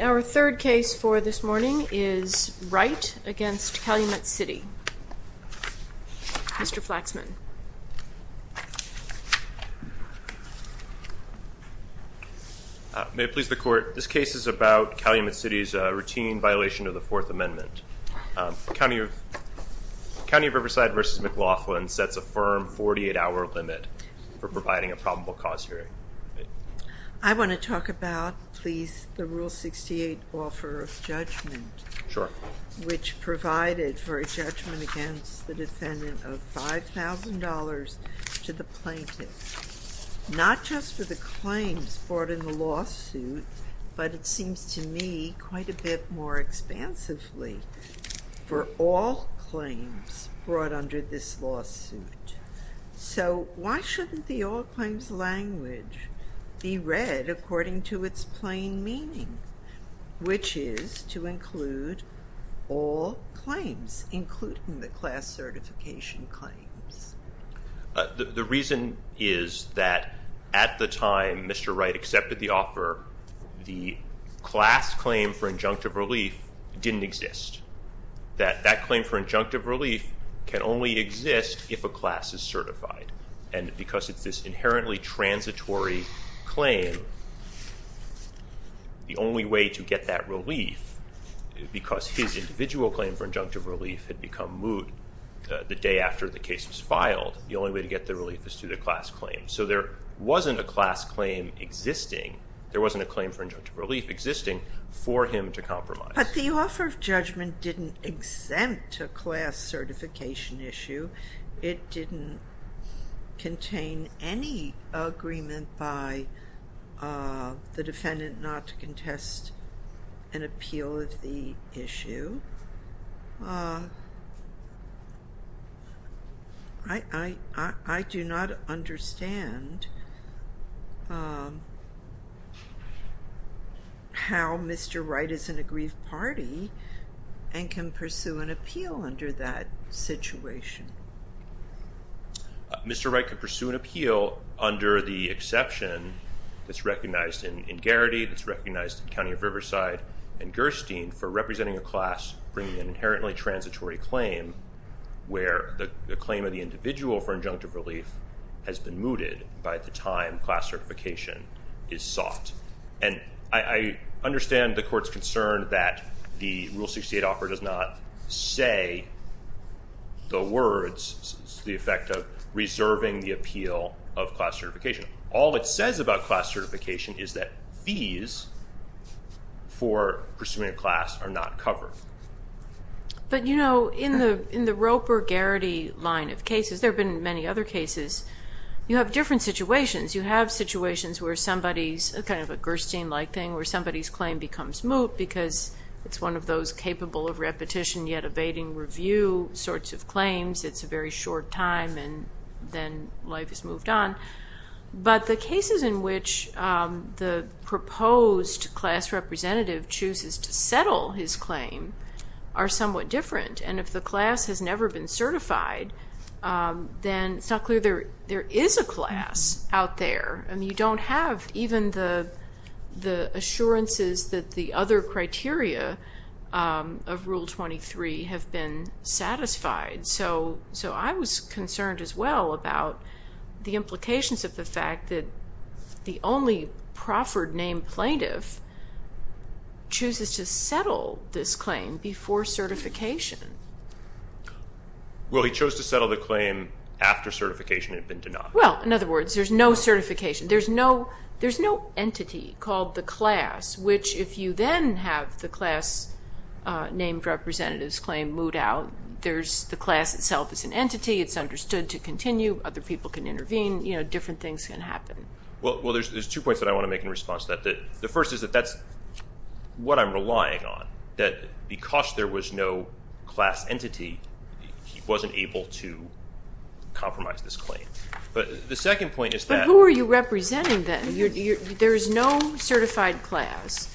Our third case for this morning is Wright v. Calumet City, Mr. Flaxman. May it please the court, this case is about Calumet City's routine violation of the Fourth Amendment. County of Riverside v. McLaughlin sets a firm 48-hour limit for providing a probable cause hearing. I want to talk about, please, the Rule 68 offer of judgment. Sure. Which provided for a judgment against the defendant of $5,000 to the plaintiff. Not just for the claims brought in the lawsuit, but it seems to me quite a bit more expansively for all claims brought under this lawsuit. So why shouldn't the all claims language be read according to its plain meaning, which is to include all claims, including the class certification claims? The reason is that at the time Mr. Wright accepted the offer, the class claim for injunctive relief didn't exist. That claim for injunctive relief can only exist if a class is certified. And because it's this inherently transitory claim, the only way to get that relief, because his individual claim for injunctive relief had become moot the day after the case was filed, the only way to get the relief is through the class claim. So there wasn't a class claim existing, there wasn't a claim for injunctive relief existing for him to compromise. But the offer of judgment didn't exempt a class certification issue. It didn't contain any agreement by the defendant not to contest an appeal of the issue. I do not understand how Mr. Wright is in a grief party and can pursue an appeal under that situation. Mr. Wright could pursue an appeal under the exception that's recognized in Garrity, that's recognized in County of Riverside and Gerstein for representing a class bringing an inherently transitory claim where the claim of the individual for injunctive relief has been mooted by the time class certification is sought. And I understand the court's concern that the Rule 68 offer does not say the words, the effect of reserving the appeal of class certification. All it says about class certification is that fees for pursuing a class are not covered. But you know, in the Roper-Garrity line of cases, there have been many other cases, you have different situations. You have situations where somebody's, kind of a Gerstein-like thing, where somebody's claim becomes moot because it's one of those capable of repetition yet abating review sorts of claims. It's a very short time and then life is moved on. But the cases in which the proposed class representative chooses to settle his claim are somewhat different. And if the class has never been certified, then it's not clear there is a class out there. I mean, you don't have even the assurances that the other criteria of Rule 23 have been satisfied. So I was concerned as well about the implications of the fact that the only proffered named plaintiff chooses to settle this claim before certification. Well, he chose to settle the claim after certification had been denied. Well, in other words, there's no certification. There's no entity called the class, which if you then have the class named representative's claim moot out, there's the class itself as an entity. It's understood to continue. Other people can intervene. You know, different things can happen. Well, there's two points that I want to make in response to that. The first is that that's what I'm relying on, that because there was no class entity, he wasn't able to compromise this claim. But the second point is that – But who are you representing then? There is no certified class.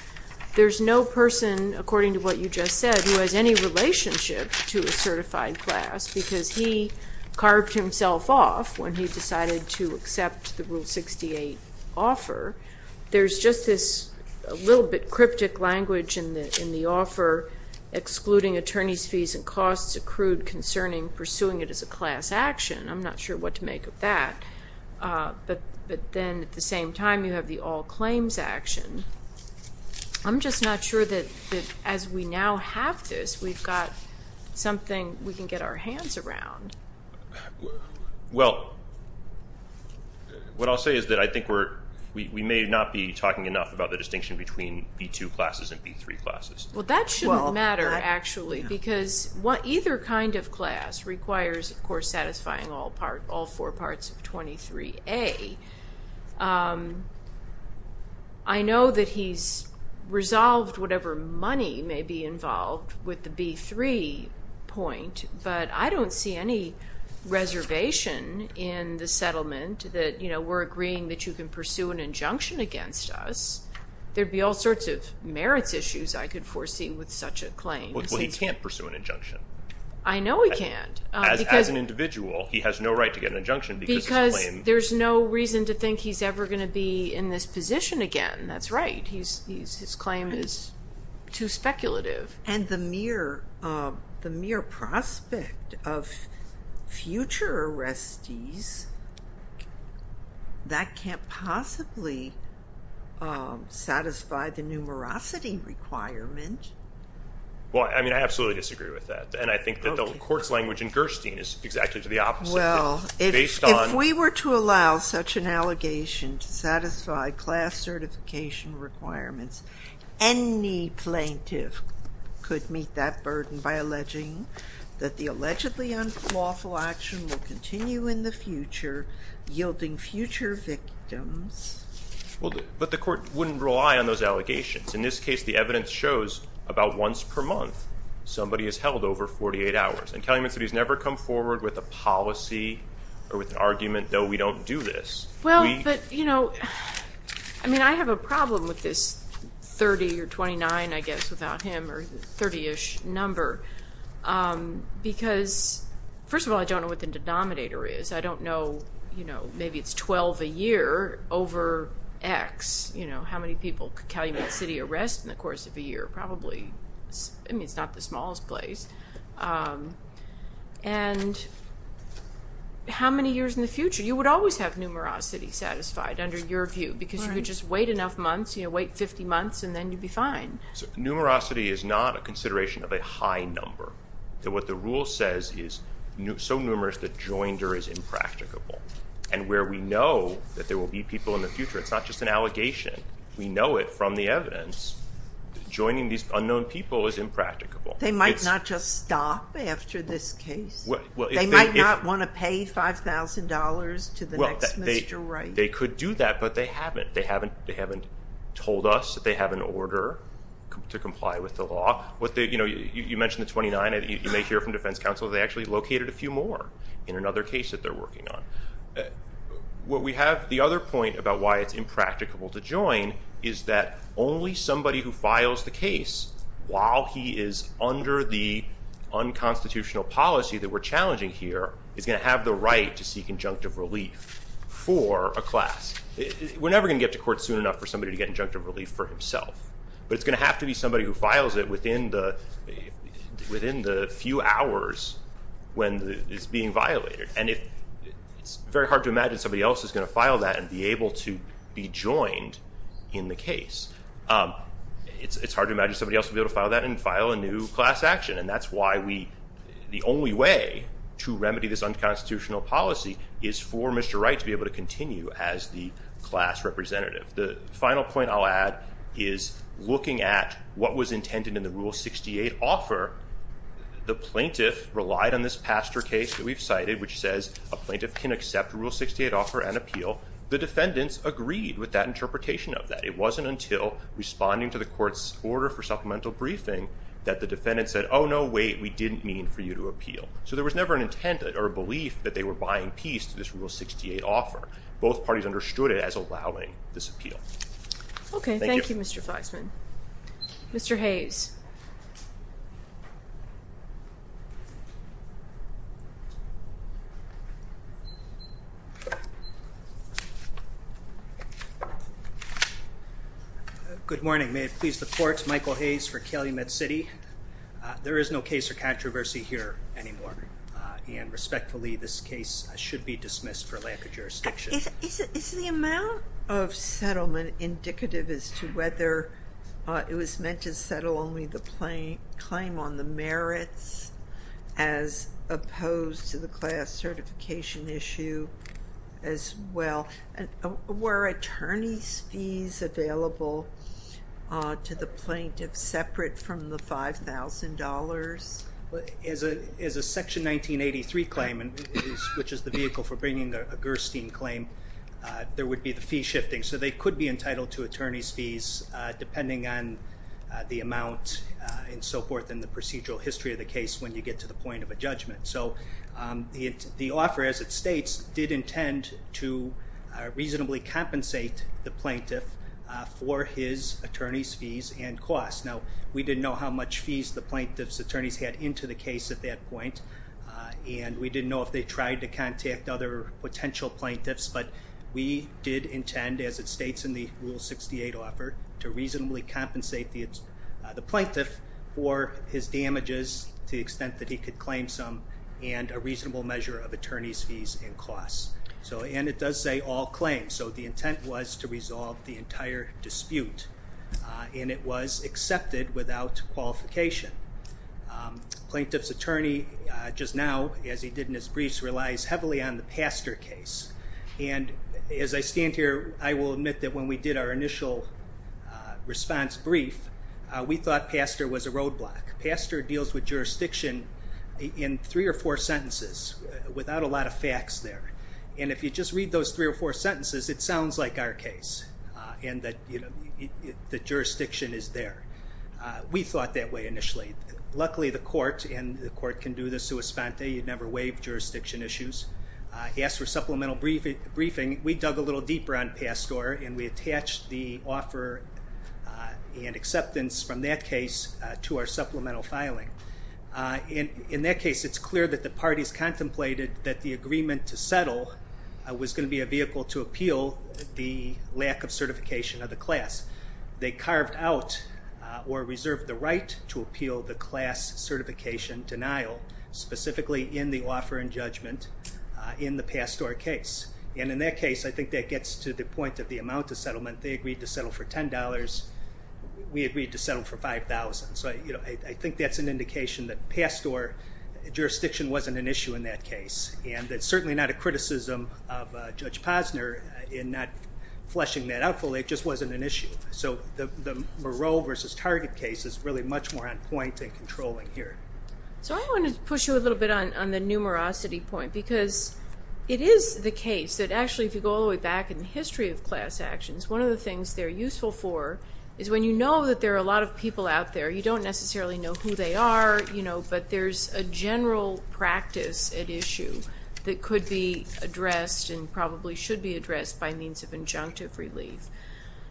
There's no person, according to what you just said, who has any relationship to a certified class because he carved himself off when he decided to accept the Rule 68 offer. There's just this little bit cryptic language in the offer, excluding attorney's fees and costs accrued concerning pursuing it as a class action. I'm not sure what to make of that. But then at the same time, you have the all claims action. I'm just not sure that as we now have this, we've got something we can get our hands around. Well, what I'll say is that I think we may not be talking enough about the distinction between B2 classes and B3 classes. Well, that shouldn't matter, actually, because either kind of class requires, of course, satisfying all four parts of 23A. I know that he's resolved whatever money may be involved with the B3 point, but I don't see any reservation in the settlement that we're agreeing that you can pursue an injunction against us. There'd be all sorts of merits issues I could foresee with such a claim. Well, he can't pursue an injunction. I know he can't. As an individual, he has no right to get an injunction. Because there's no reason to think he's ever going to be in this position again. That's right. His claim is too speculative. And the mere prospect of future arrestees, that can't possibly satisfy the numerosity requirement. Well, I mean, I absolutely disagree with that. And I think that the court's language in Gerstein is exactly the opposite. Well, if we were to allow such an allegation to satisfy class certification requirements, any plaintiff could meet that burden by alleging that the allegedly unlawful action will continue in the future, yielding future victims. But the court wouldn't rely on those allegations. In this case, the evidence shows about once per month somebody is held over 48 hours. And Calumet City has never come forward with a policy or with an argument, no, we don't do this. Well, but, you know, I mean, I have a problem with this 30 or 29, I guess, without him, or 30-ish number. Because, first of all, I don't know what the denominator is. I don't know, you know, maybe it's 12 a year over X. You know, how many people could Calumet City arrest in the course of a year? I mean, it's not the smallest place. And how many years in the future? You would always have numerosity satisfied, under your view, because you could just wait enough months, you know, wait 50 months, and then you'd be fine. Numerosity is not a consideration of a high number. What the rule says is so numerous that joinder is impracticable. And where we know that there will be people in the future, it's not just an allegation. We know it from the evidence. Joining these unknown people is impracticable. They might not just stop after this case. They might not want to pay $5,000 to the next Mr. Wright. Well, they could do that, but they haven't. They haven't told us that they have an order to comply with the law. You know, you mentioned the 29. You may hear from defense counsel they actually located a few more in another case that they're working on. What we have, the other point about why it's impracticable to join is that only somebody who files the case, while he is under the unconstitutional policy that we're challenging here, is going to have the right to seek injunctive relief for a class. We're never going to get to court soon enough for somebody to get injunctive relief for himself. But it's going to have to be somebody who files it within the few hours when it's being violated. And it's very hard to imagine somebody else is going to file that and be able to be joined in the case. It's hard to imagine somebody else will be able to file that and file a new class action. And that's why the only way to remedy this unconstitutional policy is for Mr. Wright to be able to continue as the class representative. The final point I'll add is looking at what was intended in the Rule 68 offer, the plaintiff relied on this pastor case that we've cited, which says a plaintiff can accept a Rule 68 offer and appeal. The defendants agreed with that interpretation of that. It wasn't until responding to the court's order for supplemental briefing that the defendant said, oh, no, wait, we didn't mean for you to appeal. So there was never an intent or a belief that they were buying peace to this Rule 68 offer. Both parties understood it as allowing this appeal. Okay, thank you, Mr. Fleisman. Mr. Hayes. Good morning. May it please the court, Michael Hayes for Calumet City. There is no case or controversy here anymore. And respectfully, this case should be dismissed for lack of jurisdiction. Is the amount of settlement indicative as to whether it was meant to settle only the claim on the merits as opposed to the class certification issue as well? And were attorney's fees available to the plaintiff separate from the $5,000? As a Section 1983 claim, which is the vehicle for bringing a Gerstein claim, there would be the fee shifting. So they could be entitled to attorney's fees depending on the amount and so forth in the procedural history of the case when you get to the point of a judgment. So the offer, as it states, did intend to reasonably compensate the plaintiff for his attorney's fees and costs. Now, we didn't know how much fees the plaintiff's attorneys had into the case at that point. And we didn't know if they tried to contact other potential plaintiffs. But we did intend, as it states in the Rule 68 offer, to reasonably compensate the plaintiff for his damages to the extent that he could claim some and a reasonable measure of attorney's fees and costs. And it does say all claims. So the intent was to resolve the entire dispute. And it was accepted without qualification. Plaintiff's attorney, just now, as he did in his briefs, relies heavily on the pastor case. And as I stand here, I will admit that when we did our initial response brief, we thought pastor was a roadblock. Pastor deals with jurisdiction in three or four sentences without a lot of facts there. And if you just read those three or four sentences, it sounds like our case. And that the jurisdiction is there. We thought that way initially. Luckily, the court, and the court can do the sua sponte, you never waive jurisdiction issues. He asked for supplemental briefing. We dug a little deeper on pastor, and we attached the offer and acceptance from that case to our supplemental filing. In that case, it's clear that the parties contemplated that the agreement to settle was going to be a vehicle to appeal the lack of certification of the class. They carved out or reserved the right to appeal the class certification denial, specifically in the offer and judgment in the pastor case. And in that case, I think that gets to the point of the amount of settlement. They agreed to settle for $10. We agreed to settle for $5,000. So I think that's an indication that pastor jurisdiction wasn't an issue in that case. And it's certainly not a criticism of Judge Posner in not fleshing that out fully. It just wasn't an issue. So the Moreau versus Target case is really much more on point and controlling here. So I wanted to push you a little bit on the numerosity point because it is the case that actually if you go all the way back in the history of class actions, one of the things they're useful for is when you know that there are a lot of people out there, you don't necessarily know who they are, but there's a general practice at issue that could be addressed and probably should be addressed by means of injunctive relief.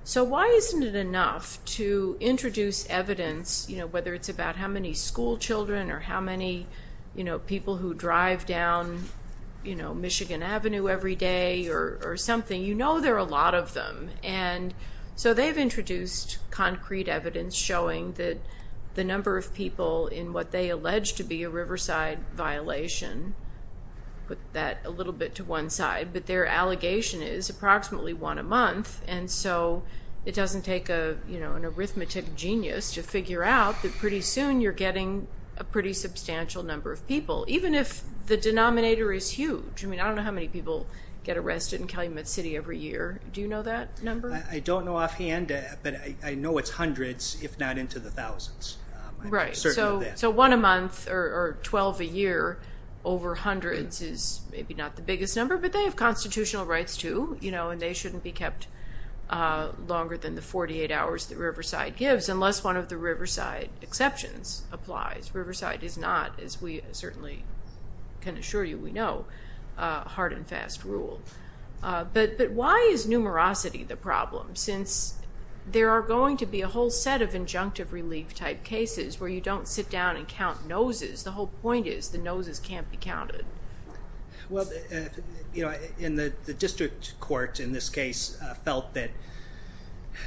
So why isn't it enough to introduce evidence, whether it's about how many schoolchildren or how many people who drive down Michigan Avenue every day or something? You know there are a lot of them. And so they've introduced concrete evidence showing that the number of people in what they allege to be a Riverside violation, put that a little bit to one side, but their allegation is approximately one a month. And so it doesn't take an arithmetic genius to figure out that pretty soon you're getting a pretty substantial number of people, even if the denominator is huge. I mean, I don't know how many people get arrested in Calumet City every year. Do you know that number? I don't know offhand, but I know it's hundreds if not into the thousands. Right. So one a month or 12 a year over hundreds is maybe not the biggest number, but they have constitutional rights too, you know, and they shouldn't be kept longer than the 48 hours that Riverside gives unless one of the Riverside exceptions applies. Riverside is not, as we certainly can assure you we know, a hard and fast rule. But why is numerosity the problem since there are going to be a whole set of injunctive relief type cases where you don't sit down and count noses. The whole point is the noses can't be counted. Well, you know, in the district court in this case felt that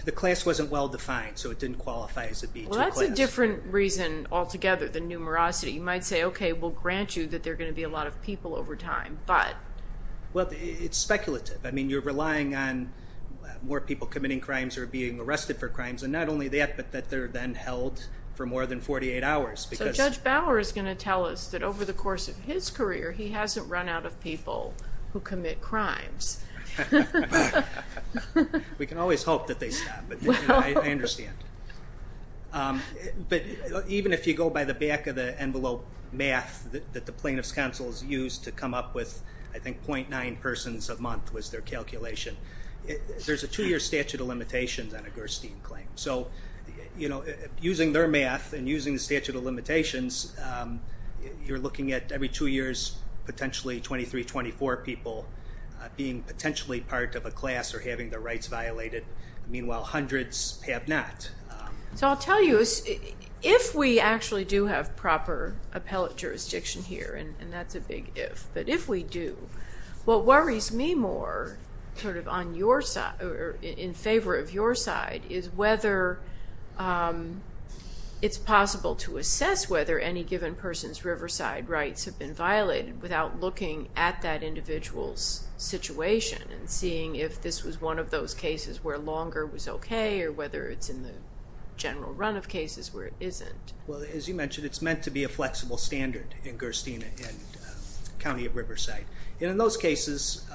the class wasn't well defined, so it didn't qualify as a B2 class. Well, that's a different reason altogether than numerosity. You might say, okay, we'll grant you that there are going to be a lot of people over time, but. Well, it's speculative. I mean, you're relying on more people committing crimes or being arrested for crimes, and not only that, but that they're then held for more than 48 hours. So Judge Bauer is going to tell us that over the course of his career he hasn't run out of people who commit crimes. We can always hope that they stop, but I understand. But even if you go by the back of the envelope math that the plaintiff's counsel has used to come up with, I think, 0.9 persons a month was their calculation. There's a two-year statute of limitations on a Gerstein claim. So using their math and using the statute of limitations, you're looking at every two years potentially 23, 24 people being potentially part of a class or having their rights violated. Meanwhile, hundreds have not. So I'll tell you, if we actually do have proper appellate jurisdiction here, and that's a big if, but if we do, what worries me more sort of on your side or in favor of your side is whether it's possible to assess whether any given person's Riverside rights have been violated without looking at that individual's situation and seeing if this was one of those cases where longer was okay or whether it's in the general run of cases where it isn't. Well, as you mentioned, it's meant to be a flexible standard in Gerstein and County of Riverside. And in those cases,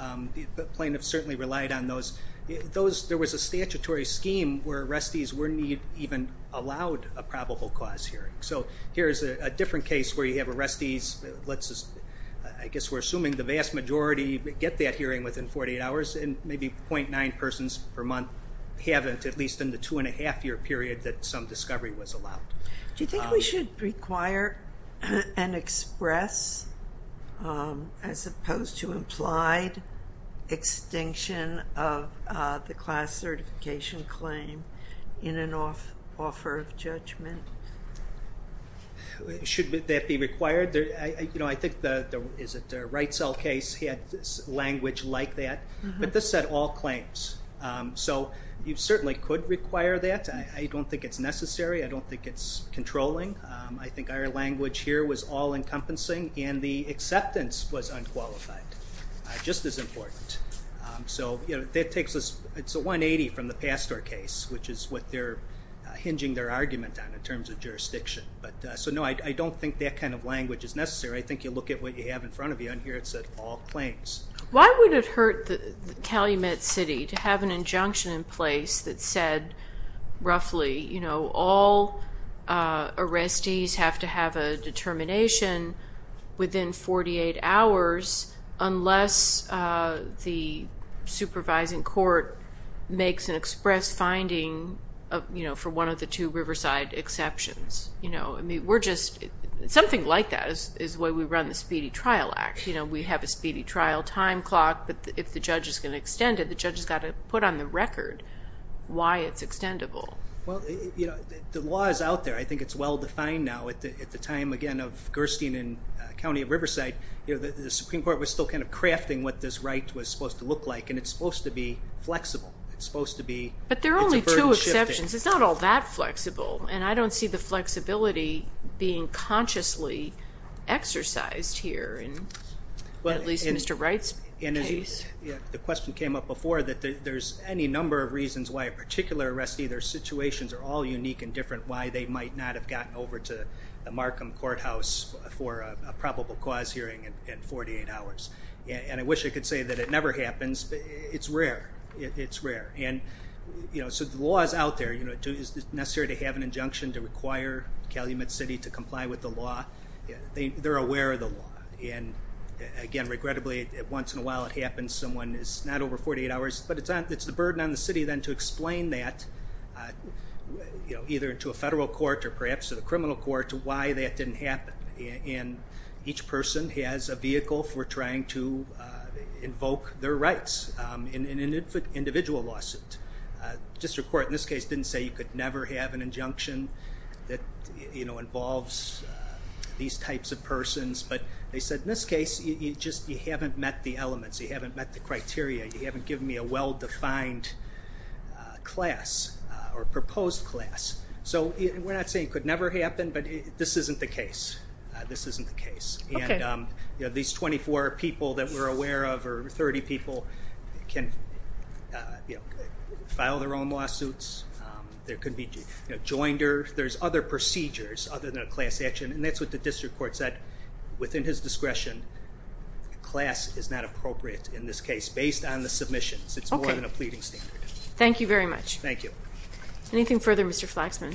the plaintiff certainly relied on those. There was a statutory scheme where arrestees weren't even allowed a probable cause hearing. So here's a different case where you have arrestees, I guess we're assuming the vast majority get that hearing within 48 hours, and maybe 0.9 persons per month haven't, at least in the two-and-a-half-year period that some discovery was allowed. Do you think we should require and express, as opposed to implied, extinction of the class certification claim in an offer of judgment? Should that be required? I think the Wrightsell case had language like that, but this had all claims. So you certainly could require that. I don't think it's necessary. I don't think it's controlling. I think our language here was all-encompassing, and the acceptance was unqualified, just as important. So it's a 180 from the Pastor case, which is what they're hinging their argument on in terms of jurisdiction. So no, I don't think that kind of language is necessary. I think you look at what you have in front of you, and here it's all claims. Why would it hurt Calumet City to have an injunction in place that said, roughly, all arrestees have to have a determination within 48 hours unless the supervising court makes an express finding for one of the two Riverside exceptions? Something like that is why we run the Speedy Trial Act. We have a speedy trial time clock, but if the judge is going to extend it, the judge has got to put on the record why it's extendable. The law is out there. I think it's well-defined now. At the time, again, of Gerstein and County of Riverside, the Supreme Court was still kind of crafting what this right was supposed to look like, and it's supposed to be flexible. But there are only two exceptions. It's not all that flexible, and I don't see the flexibility being consciously exercised here, at least in Mr. Wright's case. The question came up before that there's any number of reasons why a particular arrestee, their situations are all unique and different, why they might not have gotten over to the Markham Courthouse for a probable cause hearing in 48 hours. And I wish I could say that it never happens, but it's rare. It's rare. So the law is out there. Is it necessary to have an injunction to require Calumet City to comply with the law? They're aware of the law. And again, regrettably, once in a while it happens, someone is not over 48 hours, but it's the burden on the city then to explain that, either to a federal court or perhaps to the criminal court, to why that didn't happen. And each person has a vehicle for trying to invoke their rights in an individual lawsuit. District Court in this case didn't say you could never have an injunction that involves these types of persons, but they said in this case, you just haven't met the elements. You haven't met the criteria. You haven't given me a well-defined class or proposed class. So we're not saying it could never happen, but this isn't the case. This isn't the case. And these 24 people that we're aware of or 30 people can file their own lawsuits. There could be joinder. There's other procedures other than a class action. And that's what the district court said within his discretion. Class is not appropriate in this case based on the submissions. It's more than a pleading standard. Thank you very much. Thank you. Anything further, Mr. Flaxman?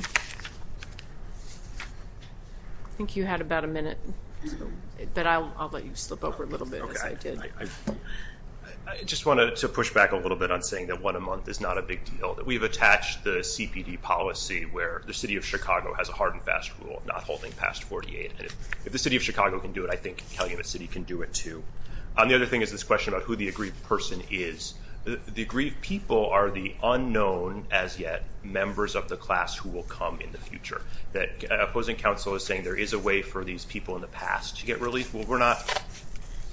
I think you had about a minute, but I'll let you slip over a little bit. I just wanted to push back a little bit on saying that one a month is not a big deal. We've attached the CPD policy where the city of Chicago has a hard and fast rule of not holding past 48. If the city of Chicago can do it, I think Calumet City can do it, too. The other thing is this question about who the aggrieved person is. The aggrieved people are the unknown as yet members of the class who will come in the future. The opposing counsel is saying there is a way for these people in the past to get relief. Well, we're not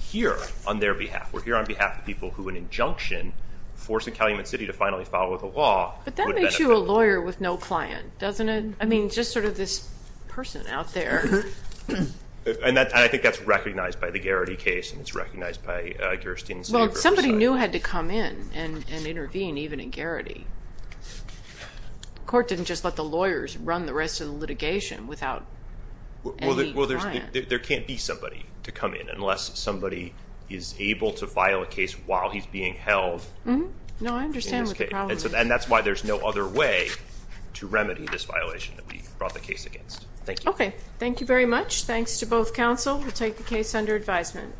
here on their behalf. We're here on behalf of people who an injunction forcing Calumet City to finally follow the law would benefit them. But that makes you a lawyer with no client, doesn't it? I mean, just sort of this person out there. And I think that's recognized by the Garrity case and it's recognized by Kirsten's neighbor. Well, somebody new had to come in and intervene, even at Garrity. The court didn't just let the lawyers run the rest of the litigation without any client. Well, there can't be somebody to come in unless somebody is able to file a case while he's being held. No, I understand what the problem is. And that's why there's no other way to remedy this violation that we brought the case against. Thank you. Okay, thank you very much. Thanks to both counsel. We'll take the case under advisement.